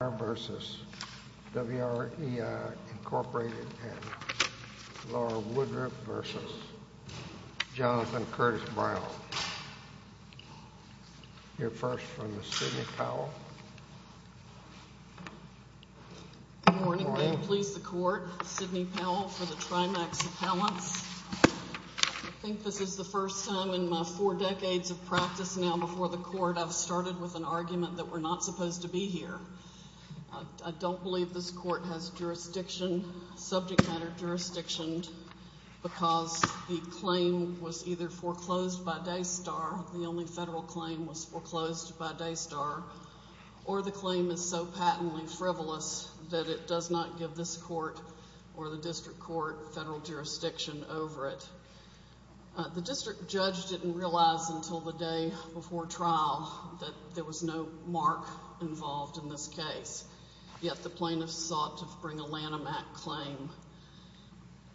v. WREI, and Laura Woodruff v. Jonathan Curtis-Brown. Here first from Sidney Powell. Good morning, please, the Court. Sidney Powell for the TriMax Appellants. I think this is the first time in my four decades of practice now before the Court I've started with an argument that we're not supposed to be here. I don't believe this Court has jurisdiction, subject matter jurisdiction, because the claim was either foreclosed by Daystar, the only federal claim was foreclosed by Daystar, or the claim is so patently frivolous that it does not give this Court or the District Court federal jurisdiction over it. The District Judge didn't realize until the day before trial that there was no jurisdiction in this case, yet the plaintiffs sought to bring a Lanham Act claim.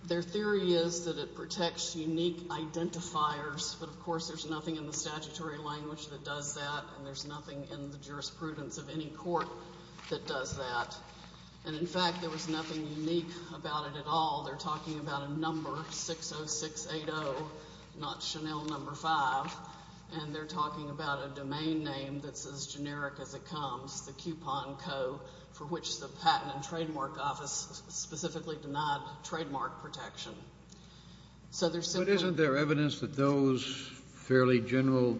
Their theory is that it protects unique identifiers, but of course there's nothing in the statutory language that does that, and there's nothing in the jurisprudence of any court that does that. And in fact, there was nothing unique about it at all. They're talking about a number, 60680, not Chanel number 5, and they're talking about a domain name that's as generic as it is, the Honko, for which the Patent and Trademark Office specifically denied trademark protection. So there's simply... But isn't there evidence that those fairly general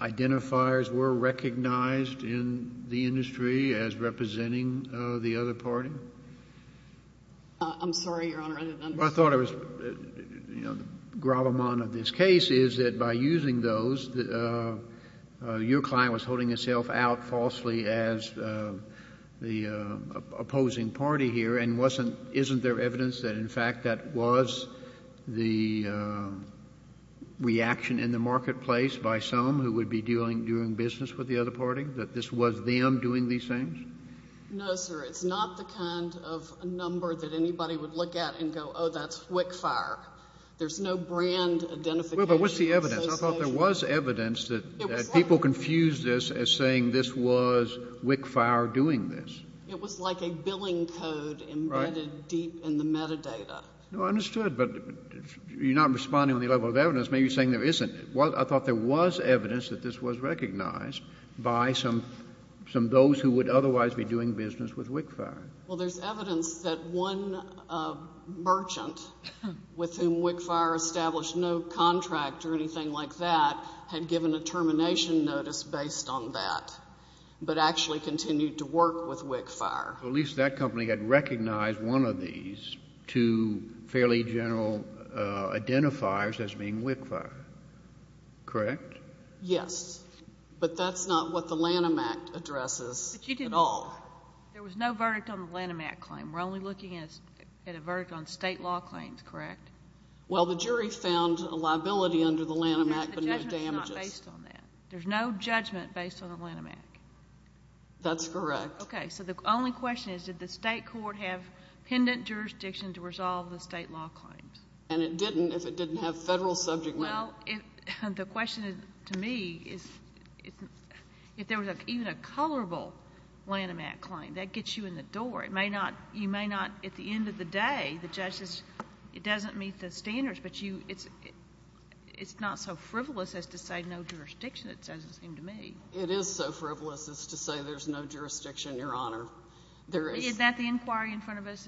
identifiers were recognized in the industry as representing the other party? I'm sorry, Your Honor. I didn't understand. What I thought was, you know, the grommet of this case is that by using those, your client was holding himself out falsely as the opposing party here, and wasn't — isn't there evidence that, in fact, that was the reaction in the marketplace by some who would be doing business with the other party, that this was them doing these things? No, sir. It's not the kind of number that anybody would look at and go, oh, that's WIC fire. There's no brand identification association. Well, but what's the evidence? I thought there was evidence that people confused this as saying this was WIC fire doing this. It was like a billing code embedded deep in the metadata. No, I understood. But you're not responding on the level of evidence, maybe saying there isn't. I thought there was evidence that this was recognized by some — some those who would otherwise be doing business with WIC fire. Well, there's evidence that one merchant with whom WIC fire established no contract or anything like that had given a termination notice based on that, but actually continued to work with WIC fire. So at least that company had recognized one of these two fairly general identifiers as being WIC fire, correct? Yes. But that's not what the Lanham Act addresses at all. There was no verdict on the Lanham Act claim. We're only looking at a verdict on state law claims, correct? Well, the jury found a liability under the Lanham Act, but no damages. The judgment is not based on that. There's no judgment based on the Lanham Act. That's correct. Okay. So the only question is, did the state court have pendant jurisdiction to resolve the state law claims? And it didn't if it didn't have federal subject matter. Well, the question to me is, if there was even a colorable Lanham Act claim, that gets you in the door. You may not, at the end of the day, the judge says it doesn't meet the standards, but it's not so frivolous as to say no jurisdiction, it doesn't seem to me. It is so frivolous as to say there's no jurisdiction, Your Honor. Isn't that the inquiry in front of us?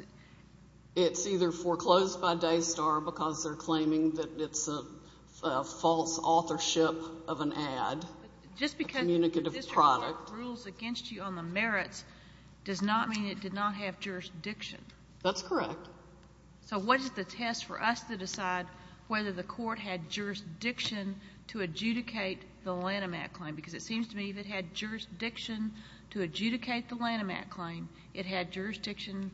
It's either foreclosed by Daystar because they're claiming that it's a false authorship of an ad, a communicative product. Just because the district court rules against you on the merits does not mean it did not have jurisdiction. That's correct. So what is the test for us to decide whether the court had jurisdiction to adjudicate the Lanham Act claim? Because it seems to me if it had jurisdiction to adjudicate the Lanham Act claim, it had jurisdiction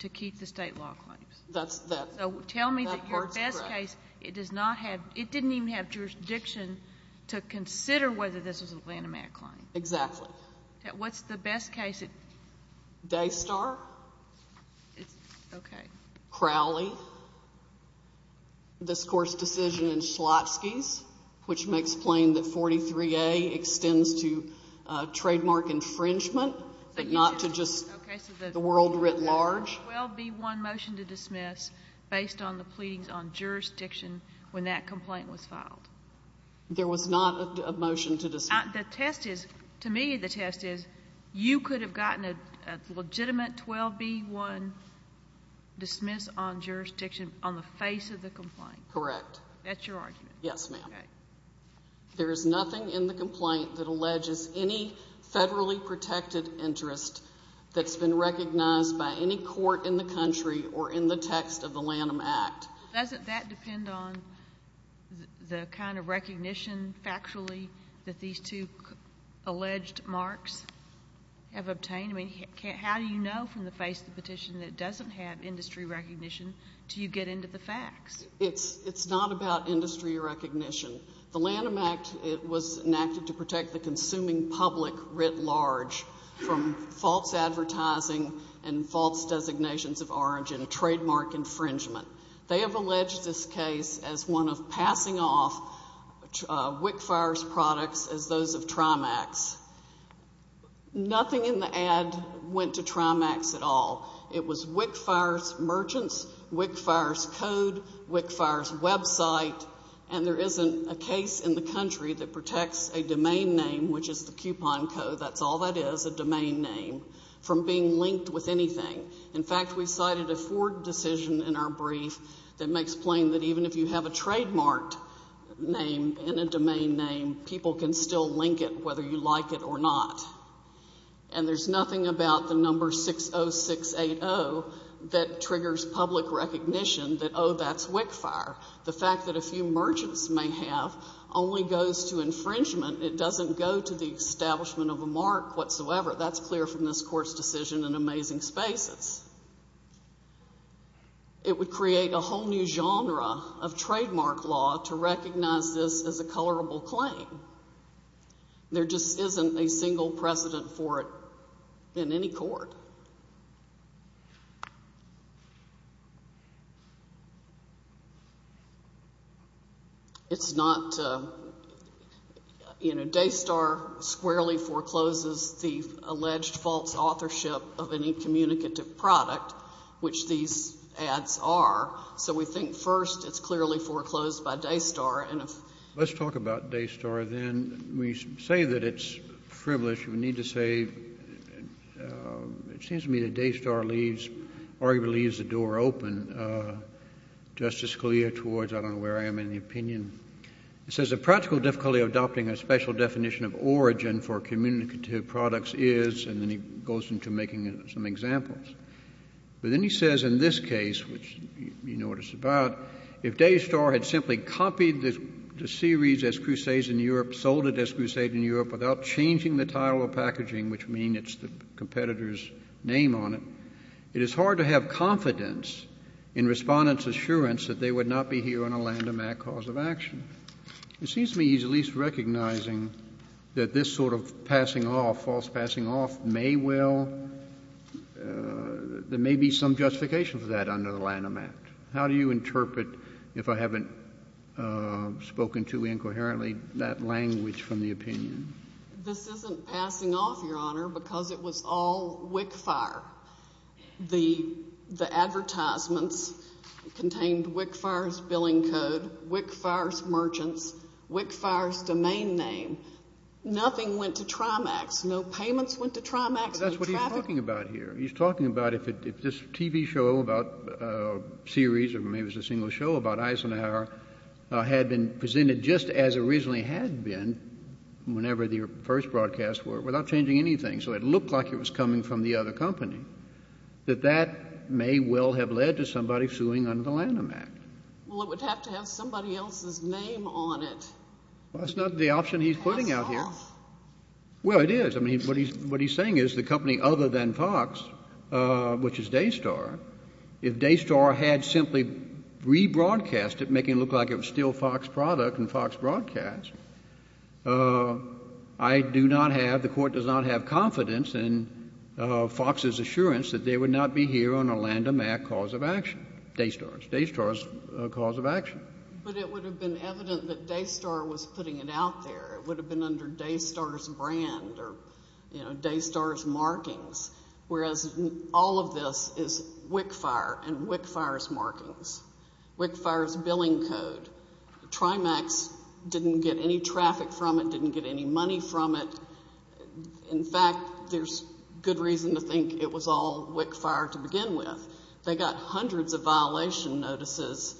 to keep the state law claims. That's that. So tell me that your best case, it does not have, it didn't even have jurisdiction to consider whether this was a Lanham Act claim. Exactly. What's the best case? Daystar. Okay. Crowley. This Court's decision in Schlotzky's, which makes plain that 43A extends to trademark infringement, but not to just the world writ large. Was there a 12B1 motion to dismiss based on the pleadings on jurisdiction when that complaint was filed? There was not a motion to dismiss. The test is, to me the test is, you could have gotten a legitimate 12B1 dismiss on jurisdiction on the face of the complaint. Correct. That's your argument? Yes, ma'am. Okay. There is nothing in the complaint that alleges any federally protected interest that's been recognized by any court in the country or in the text of the Lanham Act. Doesn't that depend on the kind of recognition factually that these two alleged marks have obtained? I mean, how do you know from the face of the petition that it doesn't have industry recognition until you get into the facts? It's not about industry recognition. The Lanham Act, it was enacted to protect the consuming public writ large from false advertising and false designations of origin, trademark infringement. They have alleged this case as one of passing off WIC FIRE's products as those of Trimax. Nothing in the ad went to Trimax at all. It was WIC FIRE's merchants, WIC FIRE's code, WIC FIRE's website, and there isn't a case in the country that protects a domain name, which is the coupon code. That's all that is, a domain name, from being linked with anything. In fact, we cited a Ford decision in our brief that makes plain that even if you have a trademarked name and a domain name, people can still link it whether you like it or not. And there's nothing about the number 60680 that triggers public recognition that, oh, that's WIC FIRE. The fact that a few merchants may have only goes to infringement. It doesn't go to the establishment of a mark whatsoever. That's clear from this Court's decision in Amazing Spaces. It would create a whole new genre of trademark law to recognize this as a colorable claim. There just isn't a single precedent for it in any court. It's not, you know, Daystar squarely forecloses the alleged false authorship of any communicative product, which these ads are. So we think, first, it's clearly foreclosed by Daystar. And if ---- Let's talk about Daystar, then. We say that it's privileged. We need to say it seems to me that Daystar leaves, arguably leaves the door open, Justice Scalia, towards I don't know where I am in the opinion. It says the practical difficulty of adopting a special definition of origin for communicative products is, and then he goes into making some examples. But then he says in this case, which you know what it's about, if Daystar had simply copied the series as Crusades in Europe, sold it as Crusades in Europe without changing the title of packaging, which means it's the competitor's name on it, it is hard to have confidence in Respondent's assurance that they would not be here on a Lanham Act cause of action. It seems to me he's at least recognizing that this sort of passing off, false passing off, may well ---- there may be some justification for that under the Lanham Act. How do you interpret, if I haven't spoken too incoherently, that language from the public opinion? This isn't passing off, Your Honor, because it was all WIC fire. The advertisements contained WIC fire's billing code, WIC fire's merchants, WIC fire's domain name. Nothing went to Trimax. No payments went to Trimax. That's what he's talking about here. He's talking about if this TV show about a series or maybe it was a single show about your first broadcast were without changing anything, so it looked like it was coming from the other company, that that may well have led to somebody suing under the Lanham Act. Well, it would have to have somebody else's name on it. Well, that's not the option he's putting out here. Pass off. Well, it is. I mean, what he's saying is the company other than Fox, which is Daystar, if Daystar had simply rebroadcast it, making it look like it was still Fox product and Fox broadcast, I do not have, the Court does not have confidence in Fox's assurance that they would not be here on a Lanham Act cause of action, Daystar's. Daystar's cause of action. But it would have been evident that Daystar was putting it out there. It would have been under Daystar's brand or, you know, Daystar's markings, whereas all of this is WIC fire and WIC fire's markings, WIC fire's billing code. Trimax didn't get any traffic from it, didn't get any money from it. In fact, there's good reason to think it was all WIC fire to begin with. They got hundreds of violation notices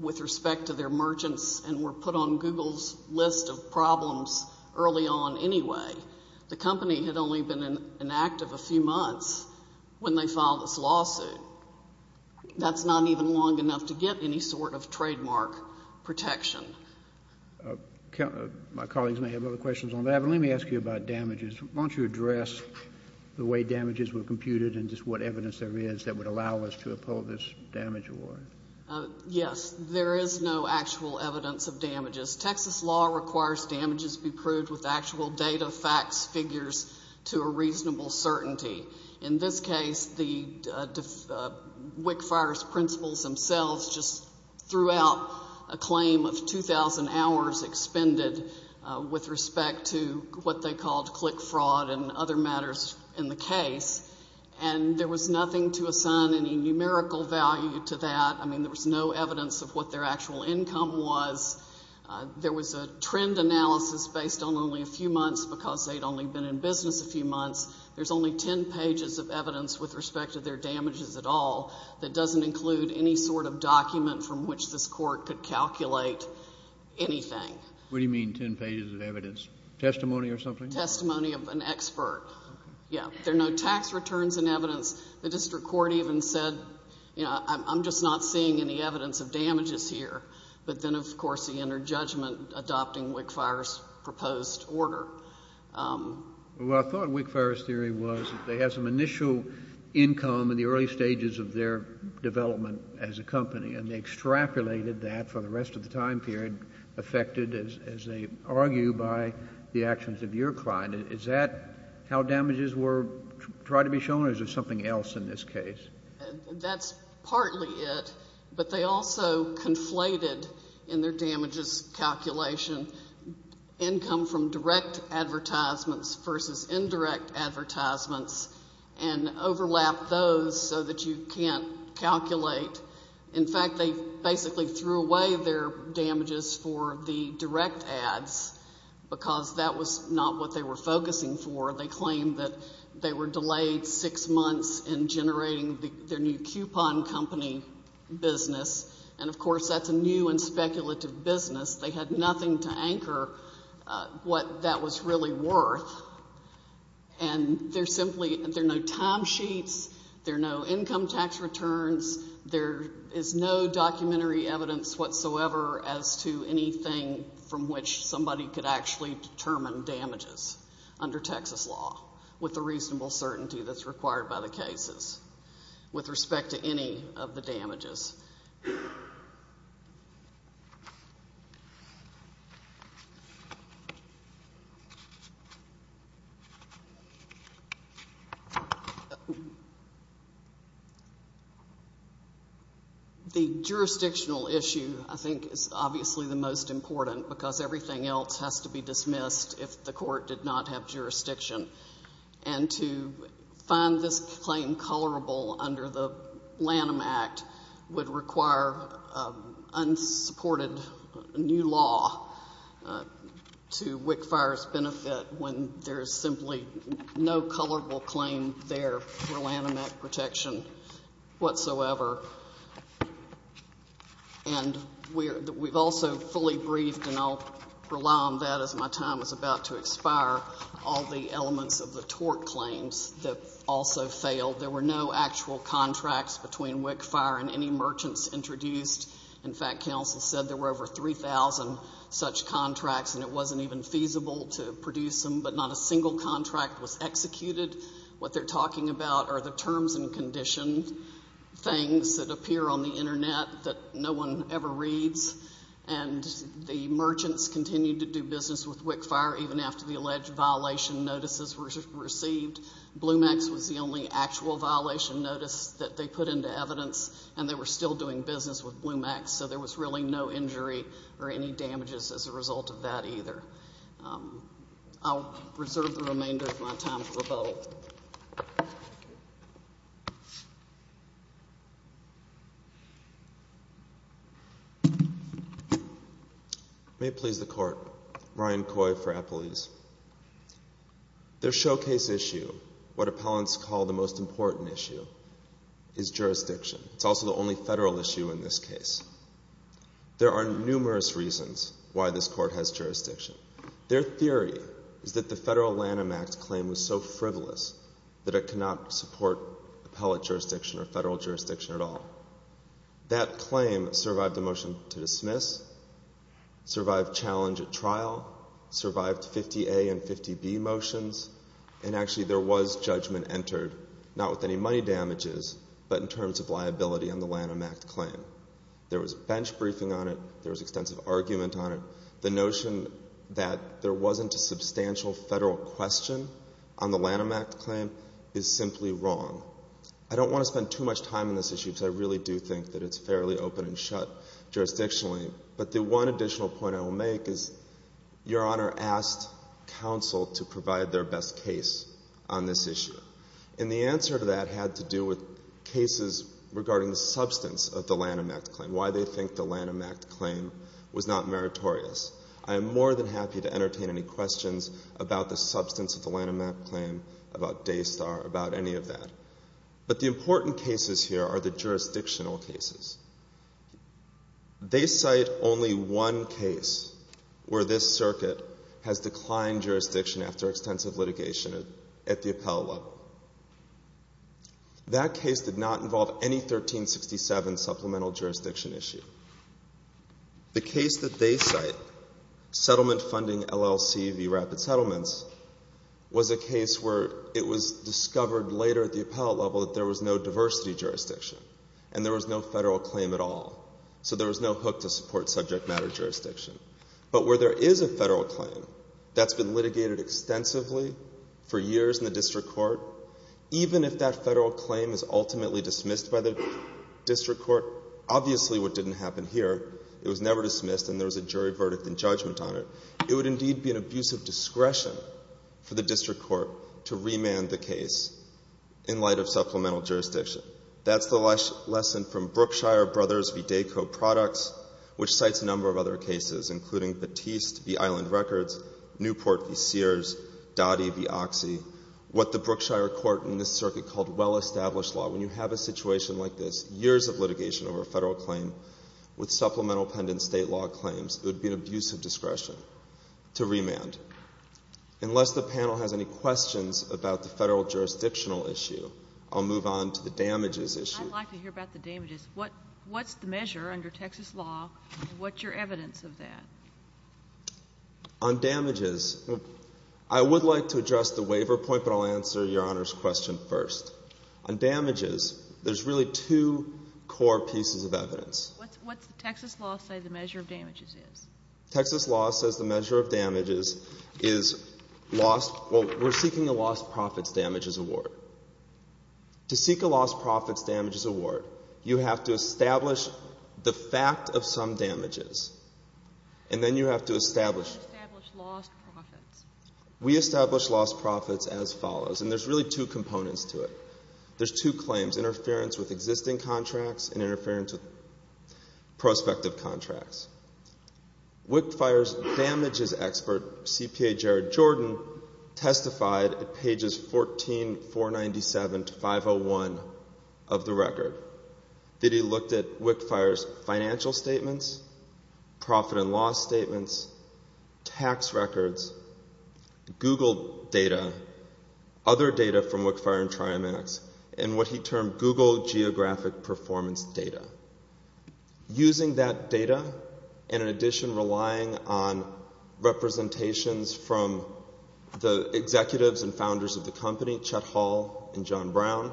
with respect to their merchants and were put on Google's list of problems early on anyway. The company had only been inactive a few months when they filed this lawsuit. That's not even long enough to get any sort of trademark protection. My colleagues may have other questions on that, but let me ask you about damages. Why don't you address the way damages were computed and just what evidence there is that would allow us to uphold this damage award? Yes. There is no actual evidence of damages. Texas law requires damages be proved with actual data, facts, figures to a reasonable certainty. In this case, the WIC fire's principles themselves just threw out a claim of 2,000 hours expended with respect to what they called click fraud and other matters in the case. And there was nothing to assign any numerical value to that. I mean, there was no evidence of what their actual income was. There was a trend analysis based on only a few months because they'd only been in business a few months. There's only 10 pages of evidence with respect to their damages at all that doesn't include any sort of document from which this Court could calculate anything. What do you mean 10 pages of evidence? Testimony or something? Testimony of an expert. Okay. Yeah. There are no tax returns in evidence. The district court even said, you know, I'm just not seeing any evidence of damages here. But then, of course, he entered judgment adopting WIC fire's proposed order. Well, I thought WIC fire's theory was that they had some initial income in the early stages of their development as a company, and they extrapolated that for the rest of the time period affected, as they argue, by the actions of your client. Is that how damages were tried to be shown, or is there something else in this case? That's partly it, but they also conflated in their damages calculation income from direct advertisements versus indirect advertisements and overlapped those so that you can't calculate. In fact, they basically threw away their damages for the direct ads because that was not what they were focusing for. They claimed that they were delayed six months in generating their new coupon company business. And, of course, that's a new and speculative business. They had nothing to anchor what that was really worth. And there's simply, there are no timesheets, there are no income tax returns, there is no documentary evidence whatsoever as to anything from which somebody could actually determine damages under Texas law with the reasonable certainty that's required by the cases with respect to any of the damages. The jurisdictional issue, I think, is obviously the most important, because everything else has to be dismissed if the court did not have jurisdiction. And to find this claim colorable under the Lanham Act, which is the most important would require unsupported new law to WIC FIRE's benefit when there is simply no colorable claim there for Lanham Act protection whatsoever. And we've also fully briefed, and I'll rely on that as my time is about to expire, all the elements of the tort claims that also failed. There were no actual contracts between WIC FIRE and any merchants introduced. In fact, counsel said there were over 3,000 such contracts and it wasn't even feasible to produce them, but not a single contract was executed. What they're talking about are the terms and conditions, things that appear on the Internet that no one ever reads. And the merchants continued to do business with WIC FIRE even after the alleged violation notices were received. Bluemax was the only actual violation notice that they put into evidence, and they were still doing business with Bluemax, so there was really no injury or any damages as a result of that either. I'll reserve the remainder of my time for the vote. May it please the Court. Ryan Coy for Appelese. Their showcase issue, what appellants call the most important issue, is jurisdiction. It's also the only federal issue in this case. There are numerous reasons why this Court has jurisdiction. Their theory is that the federal Lanham Act claim was so frivolous that it cannot support appellate jurisdiction or federal jurisdiction at all. That claim survived the motion to dismiss, survived challenge at trial, survived 50A and 50B motions, and actually there was judgment entered, not with any money damages, but in terms of liability on the Lanham Act claim. There was bench briefing on it. There was extensive argument on it. The notion that there wasn't a substantial federal question on the Lanham Act claim is simply wrong. I don't want to spend too much time on this issue because I really do think that it's fairly open and shut jurisdictionally, but the one additional point I will make is Your Honor asked counsel to provide their best case on this issue, and the answer to that had to do with cases regarding the substance of the Lanham Act claim, why they think the I am more than happy to entertain any questions about the substance of the Lanham Act claim, about Daystar, about any of that. But the important cases here are the jurisdictional cases. They cite only one case where this circuit has declined jurisdiction after extensive litigation at the appellate level. That case did not involve any 1367 supplemental jurisdiction issue. The case that they cite, settlement funding LLC v. Rapid Settlements, was a case where it was discovered later at the appellate level that there was no diversity jurisdiction and there was no federal claim at all, so there was no hook to support subject matter jurisdiction. But where there is a federal claim that's been litigated extensively for years in the district court, even if that federal claim is ultimately dismissed by the district court, obviously what didn't happen here, it was never dismissed and there was a jury verdict and judgment on it, it would indeed be an abuse of discretion for the district court to remand the case in light of supplemental jurisdiction. That's the lesson from Brookshire Brothers v. Dayco Products, which cites a number of other cases, including Batiste v. Island Records, Newport v. Sears, Dottie v. Oxy, what the Brookshire court in this circuit called well-established law. When you have a situation like this, years of litigation over a federal claim with supplemental pendent state law claims, it would be an abuse of discretion to remand. Unless the panel has any questions about the federal jurisdictional issue, I'll move on to the damages issue. I'd like to hear about the damages. What's the measure under Texas law and what's your evidence of that? On damages, I would like to address the waiver point, but I'll answer Your Honor's question first. On damages, there's really two core pieces of evidence. What's the Texas law say the measure of damages is? Texas law says the measure of damages is lost. Well, we're seeking a lost profits damages award. To seek a lost profits damages award, you have to establish the fact of some damages, and then you have to establish. How do you establish lost profits? We establish lost profits as follows, and there's really two components to it. There's two claims, interference with existing contracts and interference with prospective contracts. WIC FIRE's damages expert, CPA Jared Jordan, testified at pages 14, 497 to 501 of the record that he looked at WIC FIRE's financial statements, profit and loss statements, tax records, Google data, other data from WIC FIRE and TriMax, and what he termed Google geographic performance data. Using that data, and in addition relying on representations from the executives and founders of the company, Chet Hall and John Brown,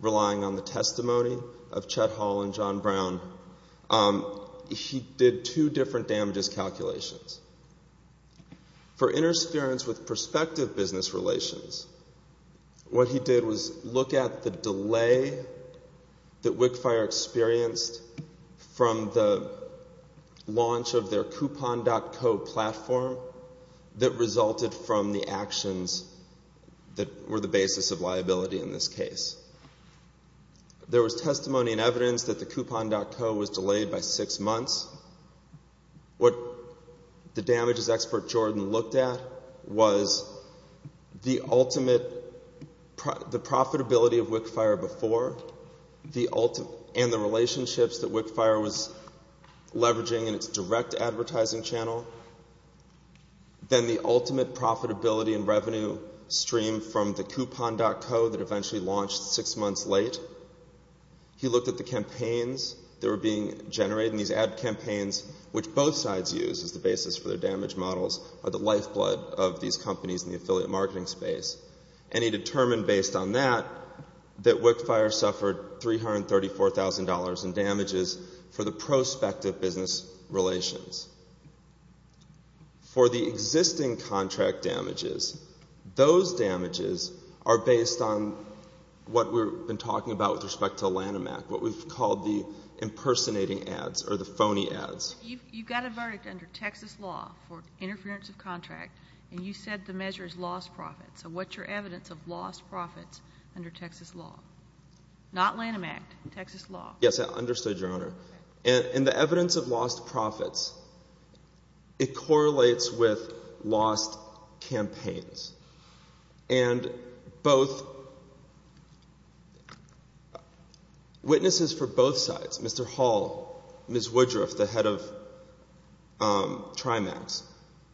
relying on the testimony of Chet Hall and For interference with prospective business relations, what he did was look at the delay that WIC FIRE experienced from the launch of their coupon.co platform that resulted from the actions that were the basis of liability in this case. There was testimony and evidence that the coupon.co was delayed by six months. What the damages expert, Jordan, looked at was the ultimate, the profitability of WIC FIRE before and the relationships that WIC FIRE was leveraging in its direct advertising channel, then the ultimate profitability and revenue stream from the coupon.co that eventually launched six months late. He looked at the campaigns that were being generated and these ad campaigns, which both sides used as the basis for their damage models, are the lifeblood of these companies in the affiliate marketing space. He determined based on that that WIC FIRE suffered $334,000 in damages for the prospective business relations. For the existing contract damages, those damages are based on what we've been talking about with respect to Lanham Act, what we've called the impersonating ads or the phony ads. You got a verdict under Texas law for interference of contract and you said the measure has lost profits. So what's your evidence of lost profits under Texas law? Yes, I understood, Your Honor. In the evidence of lost profits, it correlates with lost campaigns. Witnesses for both sides, Mr. Hall, Ms. Woodruff, the head of Trimax,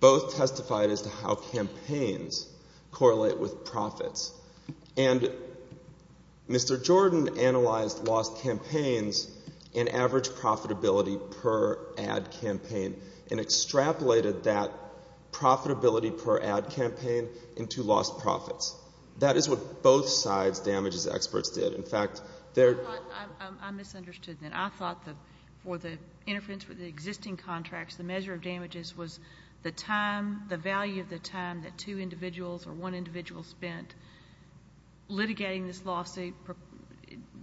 both testified as to how campaigns correlate with profits. And Mr. Jordan analyzed lost campaigns and average profitability per ad campaign and extrapolated that profitability per ad campaign into lost profits. That is what both sides' damages experts did. In fact, their ---- I misunderstood that. I thought that for the interference with the existing contracts, the measure of damages was the time, the value of the time that two individuals or one individual spent litigating this lawsuit,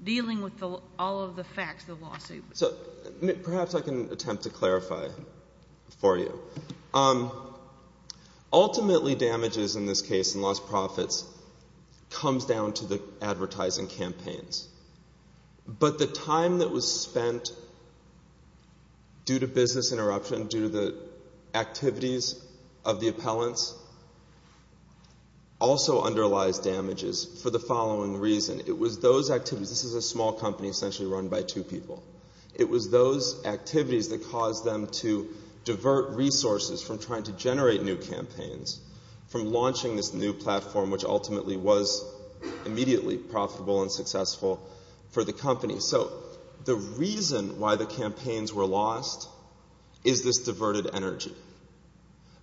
dealing with all of the facts of the lawsuit. So perhaps I can attempt to clarify for you. Ultimately, damages in this case in lost profits comes down to the advertising campaigns. But the time that was spent due to business interruption, due to the activities of the appellants, also underlies damages for the following reason. It was those activities ---- This is a small company essentially run by two people. It was those activities that caused them to divert resources from trying to generate new campaigns, from launching this new platform, which ultimately was immediately profitable and successful for the company. So the reason why the campaigns were lost is this diverted energy.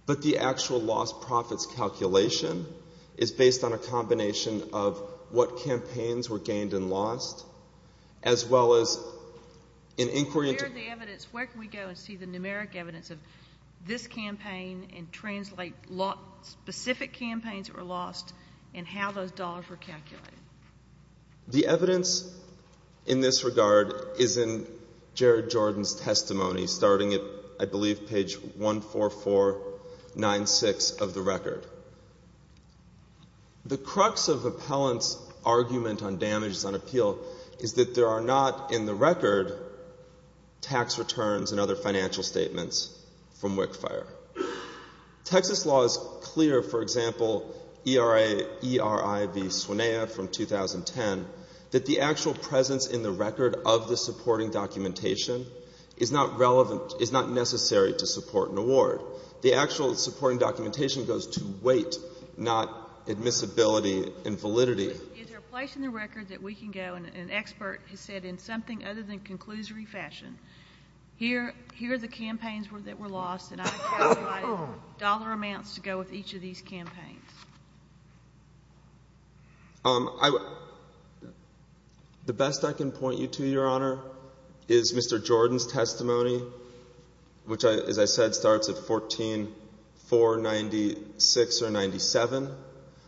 But the actual lost profits calculation is based on a combination of what campaigns were gained and lost, as well as an inquiry into ---- Where is the evidence? Where can we go and see the numeric evidence of this campaign and translate specific campaigns that were lost and how those dollars were calculated? The evidence in this regard is in Jared Jordan's testimony, starting at, I believe, page 14496 of the record. The crux of the appellant's argument on damages on appeal is that there are not in the record tax returns and other financial statements from WIC fire. Texas law is clear, for example, ERIB Swinea from 2010, that the actual presence in the record of the supporting documentation is not relevant, is not necessary to support an award. The actual supporting documentation goes to weight, not admissibility and validity. Is there a place in the record that we can go and an expert has said in something other than conclusory fashion, here are the campaigns that were lost and I calculated dollar amounts to go with each of these campaigns? The best I can point you to, Your Honor, is Mr. Jordan's testimony, which, as I said, starts at 14496 or 97.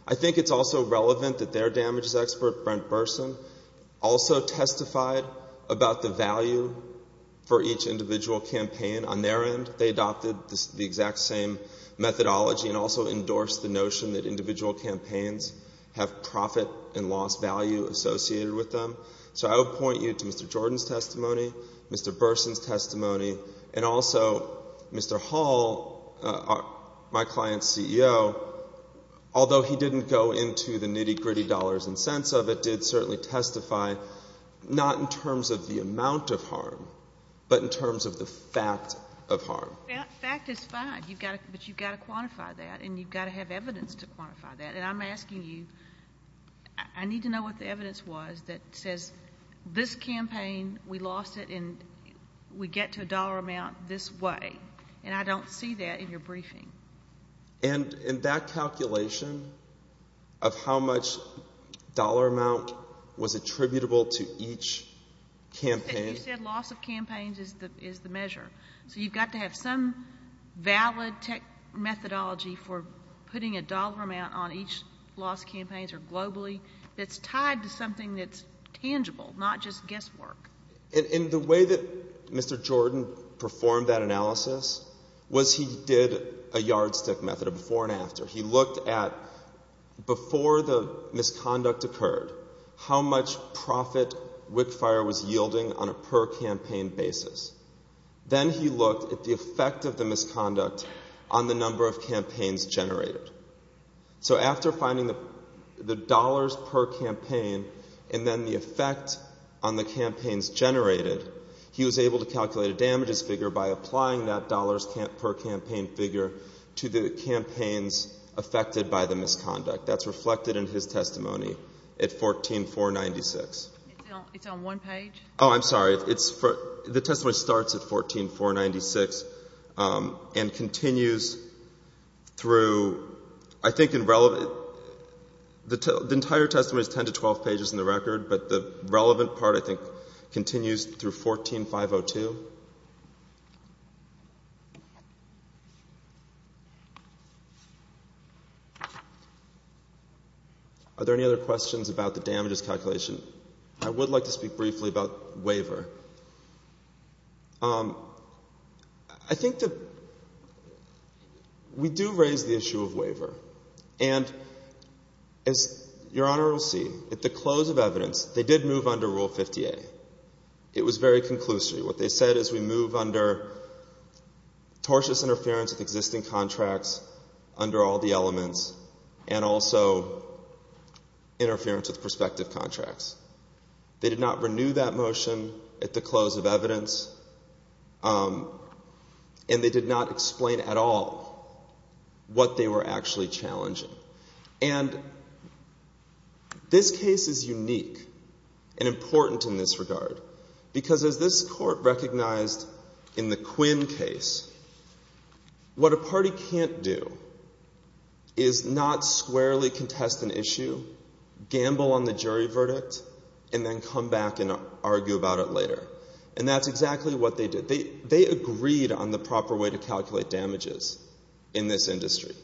I think it's also relevant that their damages expert, Brent Burson, also testified about the value for each individual campaign. On their end, they adopted the exact same methodology and also endorsed the notion that individual campaigns have profit and loss value associated with them. So I will point you to Mr. Jordan's testimony, Mr. Burson's testimony, and also Mr. Hall, my client's CEO, although he didn't go into the nitty-gritty dollars and cents of it, did certainly testify not in terms of the amount of harm, but in terms of the fact of harm. That fact is fine, but you've got to quantify that and you've got to have evidence to quantify that. And I'm asking you, I need to know what the evidence was that says this campaign, we lost it and we get to a dollar amount this way. And I don't see that in your briefing. And in that calculation of how much dollar amount was attributable to each campaign? You said loss of campaigns is the measure. So you've got to have some valid methodology for putting a dollar amount on each loss campaigns or globally that's tied to something that's tangible, not just guesswork. And the way that Mr. Jordan performed that analysis was he did a yardstick method of before and after. He looked at before the misconduct occurred, how much profit WIC Fire was yielding on a per-campaign basis. Then he looked at the effect of the misconduct on the number of campaigns generated. So after finding the dollars per campaign and then the effect on the campaigns generated, he was able to calculate a damages figure by applying that dollars per campaign figure to the campaigns affected by the misconduct. That's reflected in his testimony at 14496. It's on one page? Oh, I'm sorry. It's for, the testimony starts at 14496 and continues through 14496. I think in relevant, the entire testimony is 10 to 12 pages in the record, but the relevant part I think continues through 14502. Are there any other questions about the damages calculation? I would like to speak briefly about waiver. I think that we do raise the issue of waiver. And as Your Honor will see, at the close of evidence, they did move under Rule 50A. It was very conclusive. What they said is we move under tortious interference with existing contracts under all the elements and also interference with prospective contracts. They did not renew that motion at the close of evidence. And they did not explain at all what they were actually challenging. And this case is unique and important in this regard because as this court recognized in the Quinn case, what a party can't do is not squarely contest an issue, gamble on the jury verdict, and then come back and argue about it later. And that's exactly what they did. They agreed on the proper way to calculate damages in this industry.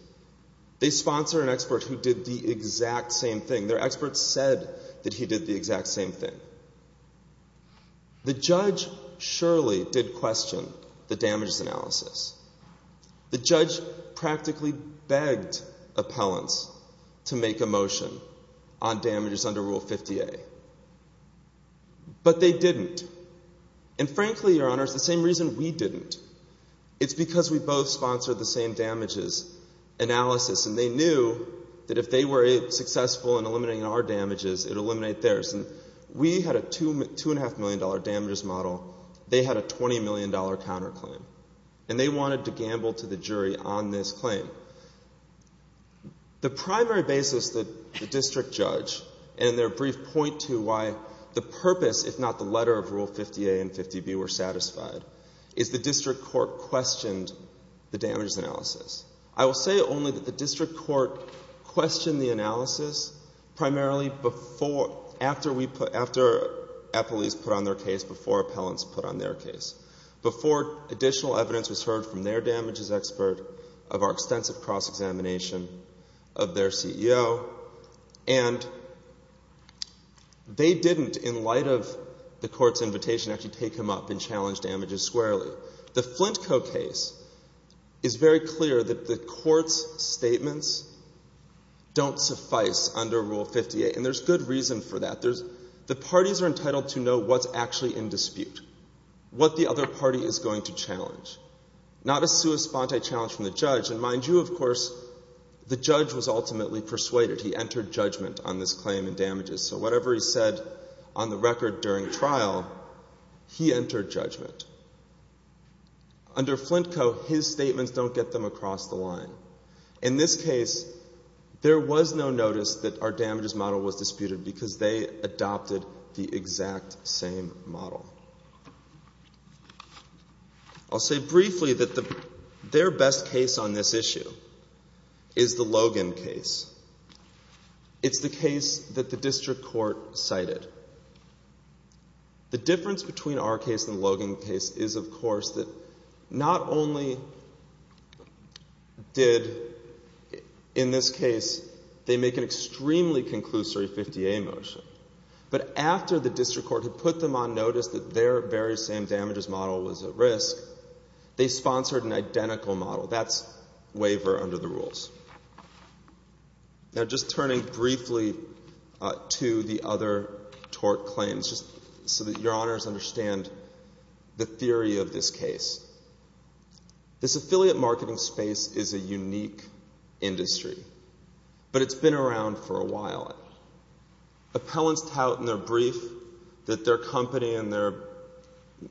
They sponsored an expert who did the exact same thing. Their expert said that he did the exact same thing. The judge surely did question the damages analysis. The judge practically begged appellants to make a motion on damages under Rule 50A. But they didn't. And frankly, Your Honor, it's the same reason we didn't. It's because we both sponsored the same damages analysis. And they knew that if they were successful in eliminating our damages, it would eliminate theirs. And we had a $2.5 million damages model. They had a $20 million counterclaim. And they wanted to gamble to the jury on this claim. The primary basis that the district judge and their brief point to why the purpose, if not the letter, of Rule 50A and 50B were satisfied is the district court questioned the damages analysis. I will say only that the district court questioned the analysis primarily after police put on their case, before appellants put on their case. Before additional evidence was heard from their damages expert of our extensive cross-examination of their CEO. And they didn't, in light of the court's invitation, actually take him up and challenge damages squarely. The Flint Co. case is very clear that the court's statements don't suffice under Rule 50A. And there's good reason for that. The parties are entitled to know what's actually in dispute. What the other party is going to challenge. Not a sua sponte challenge from the judge. And mind you, of course, the judge was ultimately persuaded. He entered judgment on this claim in damages. So whatever he said on the record during trial, he entered judgment. Under Flint Co., his statements don't get them across the line. In this case, there was no notice that our damages model was disputed because they adopted the exact same model. I'll say briefly that their best case on this issue is the Logan case. It's the case that the district court cited. The difference between our case and the Logan case is, of course, that not only did, in this case, they make an extremely conclusory 50A motion, but after the district court had put them on notice that their very same damages model was at risk, they sponsored an identical model. That's waiver under the rules. Now, just turning briefly to the other tort claims, just so that your honors understand the theory of this case. This affiliate marketing space is a unique industry, but it's been around for a while. Appellants tout in their brief that their company and their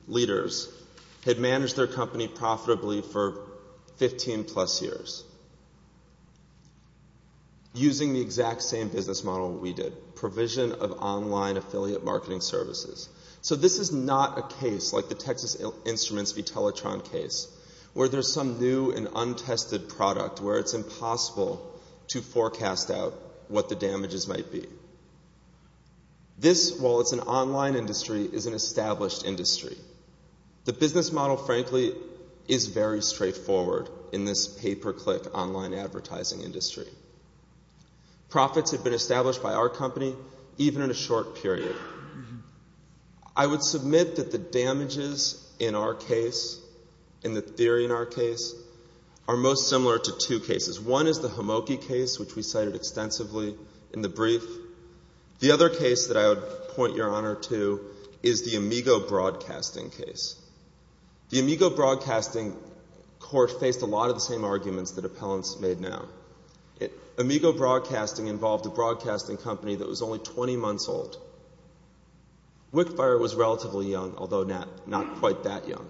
leaders had managed their company profitably for 15-plus years using the exact same business model we did, provision of online affiliate marketing services. So this is not a case like the Texas Instruments v. Teletron case where there's some new and untested product where it's impossible to forecast out what the damages might be. This, while it's an online industry, is an established industry. The business model, frankly, is very straightforward in this pay-per-click online advertising industry. Profits have been established by our company even in a short period. I would submit that the damages in our case, in the theory in our case, are most similar to two cases. One is the Hamoki case, which we cited extensively in the brief. The other case that I would point your honor to is the Amigo Broadcasting case. Amigo Broadcasting involved a broadcasting company that was only 20 months old. Wickfire was relatively young, although not quite that young.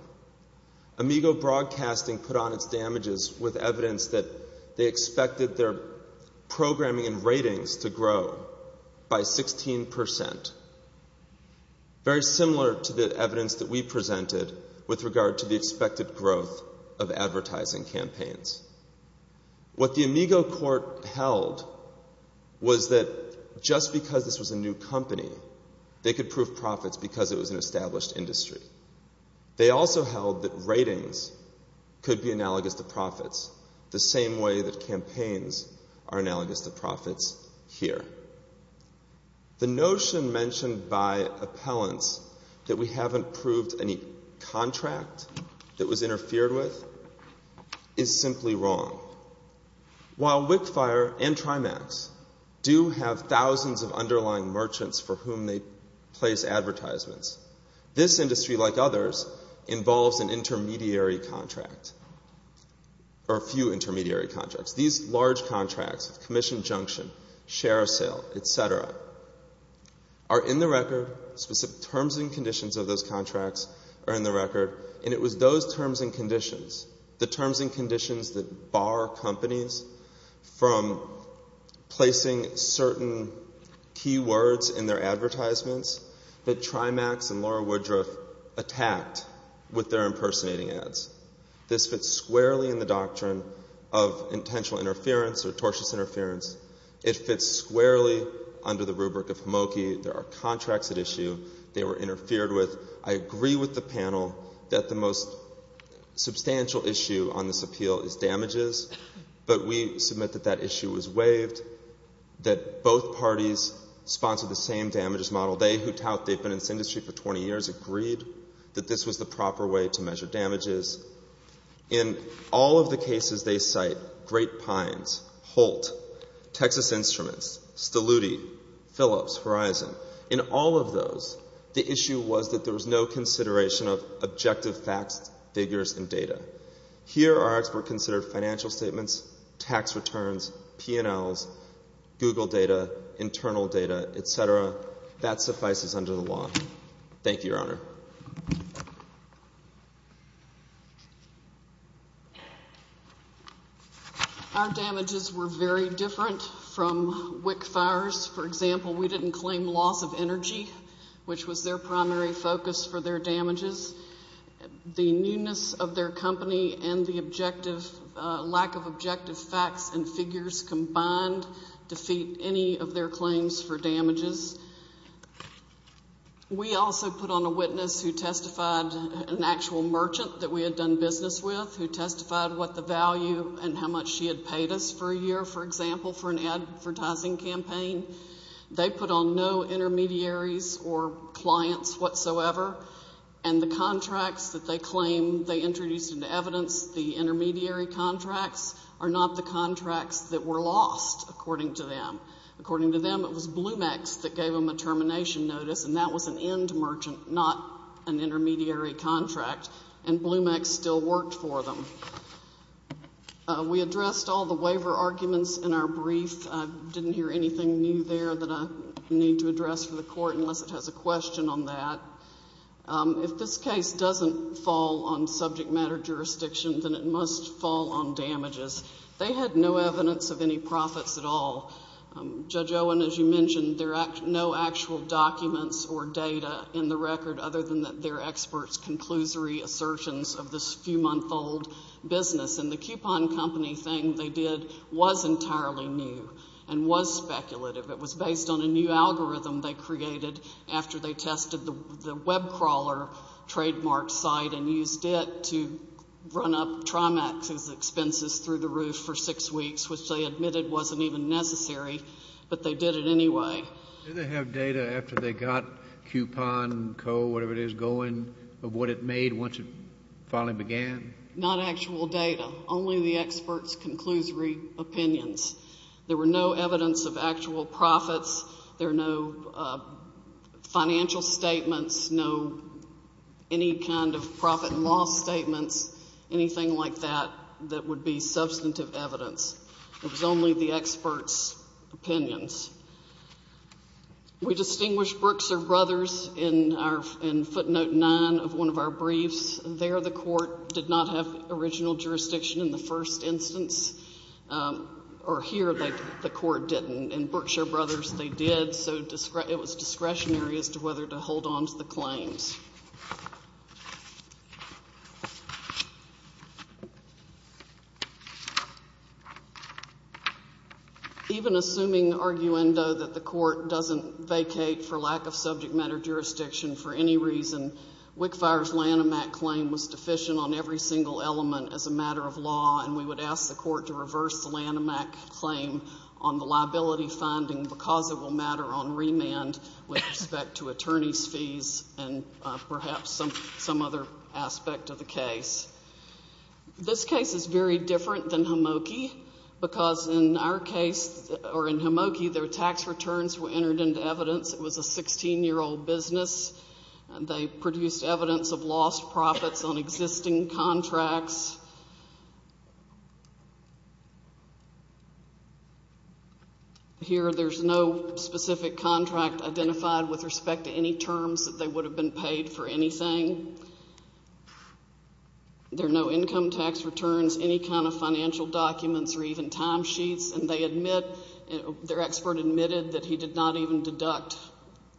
Amigo Broadcasting put on its damages with evidence that they expected their programming and ratings to grow by 16%, very similar to the evidence that we presented with regard to the expected growth of advertising campaigns. What the Amigo court held was that just because this was a new company, they could prove profits because it was an established industry. They also held that ratings could be analogous to profits, the same way that campaigns are analogous to profits here. The notion mentioned by appellants that we haven't proved any contract that was interfered with is simply wrong. While Wickfire and Trimax do have thousands of underlying merchants for whom they place advertisements, this industry, like others, involves an intermediary contract or a few intermediary contracts. These large contracts, commission junction, share sale, et cetera, are in the record. Specific terms and conditions of those contracts are in the record, and it was those terms and conditions, the terms and conditions that bar companies from placing certain keywords in their advertisements that Trimax and Laura Woodruff attacked with their impersonating ads. This fits squarely in the doctrine of intentional interference or tortious interference. It fits squarely under the rubric of Hamoki. There are contracts at issue they were interfered with. I agree with the panel that the most substantial issue on this appeal is damages, but we submit that that issue was waived, that both parties sponsored the same damages model. They, who tout they've been in this industry for 20 years, agreed that this was the proper way to measure damages. In all of the cases they cite, Great Pines, Holt, Texas Instruments, Steluti, Phillips, Horizon, in all of those, the issue was that there was no consideration of objective facts, figures, and data. Here, our expert considered financial statements, tax returns, P&Ls, Google data, internal data, et cetera. That suffices under the law. Thank you, Your Honor. Our damages were very different from WIC fires. For example, we didn't claim loss of energy, which was their primary focus for their damages. The newness of their company and the objective, lack of objective facts and figures combined defeat any of their claims for damages. We also put on a witness who testified, an actual merchant that we had done business with, who testified what the value and how much she had paid us for a year, for example, for an advertising campaign. They put on no intermediaries or clients whatsoever, and the contracts that they claim they introduced into evidence, the intermediary contracts, are not the contracts that were lost, according to them. According to them, it was Blumex that gave them a termination notice, and that was an end merchant, not an intermediary contract, and Blumex still worked for them. We addressed all the waiver arguments in our brief. I didn't hear anything new there that I need to address for the court, unless it has a question on that. If this case doesn't fall on subject matter jurisdiction, then it must fall on damages. They had no evidence of any profits at all. Judge Owen, as you mentioned, there are no actual documents or data in the record other than their experts' conclusory assertions of this few-month-old business, and the coupon company thing they did was entirely new and was speculative. It was based on a new algorithm they created after they tested the WebCrawler trademark site and used it to run up Trimax's expenses through the roof for six weeks, which they admitted wasn't even necessary, but they did it anyway. Did they have data after they got Coupon Co., whatever it is, going of what it made once it finally began? Not actual data. Only the experts' conclusory opinions. There were no evidence of actual profits. There are no financial statements, no any kind of profit and loss statements, anything like that that would be substantive evidence. It was only the experts' opinions. We distinguish Berkshire Brothers in footnote 9 of one of our briefs. There the court did not have original jurisdiction in the first instance, or here the court didn't, and Berkshire Brothers, they did, so it was discretionary as to whether to hold on to the claims. Even assuming arguendo that the court doesn't vacate for lack of subject matter jurisdiction for any reason, WIC FIRE's Lanham Act claim was deficient on every single element as a matter of law, and we would ask the court to reverse the Lanham Act claim on the liability finding because it will matter on remand with respect to attorney's fees and perhaps some other aspect of the case. This case is very different than Hamoki because in our case, or in Hamoki, their tax returns were entered into evidence. It was a 16-year-old business. They produced evidence of lost profits on existing contracts. Here there's no specific contract identified with respect to any terms that they would have been paid for anything. There are no income tax returns, any kind of financial documents, or even timesheets, and they admit, their expert admitted that he did not even deduct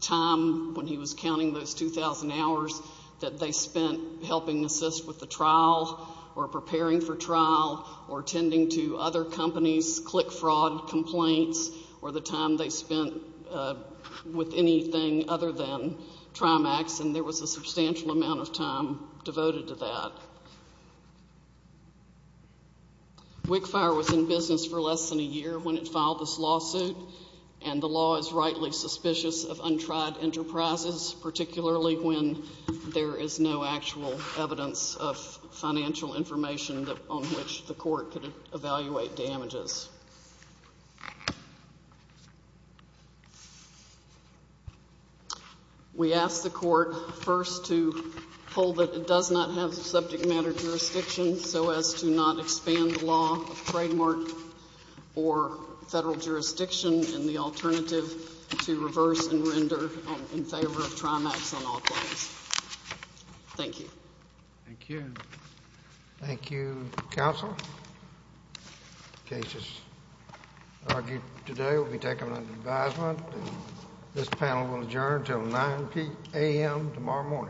time when he was counting those 2,000 hours that they spent helping assist with the trial or preparing for trial or tending to other companies' click fraud complaints or the time they spent with anything other than TRIMAX, and there was a substantial amount of time devoted to that. WIC FIRE was in business for less than a year when it filed this lawsuit, and the law is rightly suspicious of untried enterprises, particularly when there is no actual evidence of financial information on which the court could evaluate damages. We ask the court first to hold that it does not have subject matter jurisdiction so as to not expand the law of trademark or federal jurisdiction and the alternative to reverse and render in favor of TRIMAX on all claims. Thank you. Thank you. Thank you, counsel. The case is argued today. It will be taken under advisement. This panel will adjourn until 9 a.m. tomorrow morning.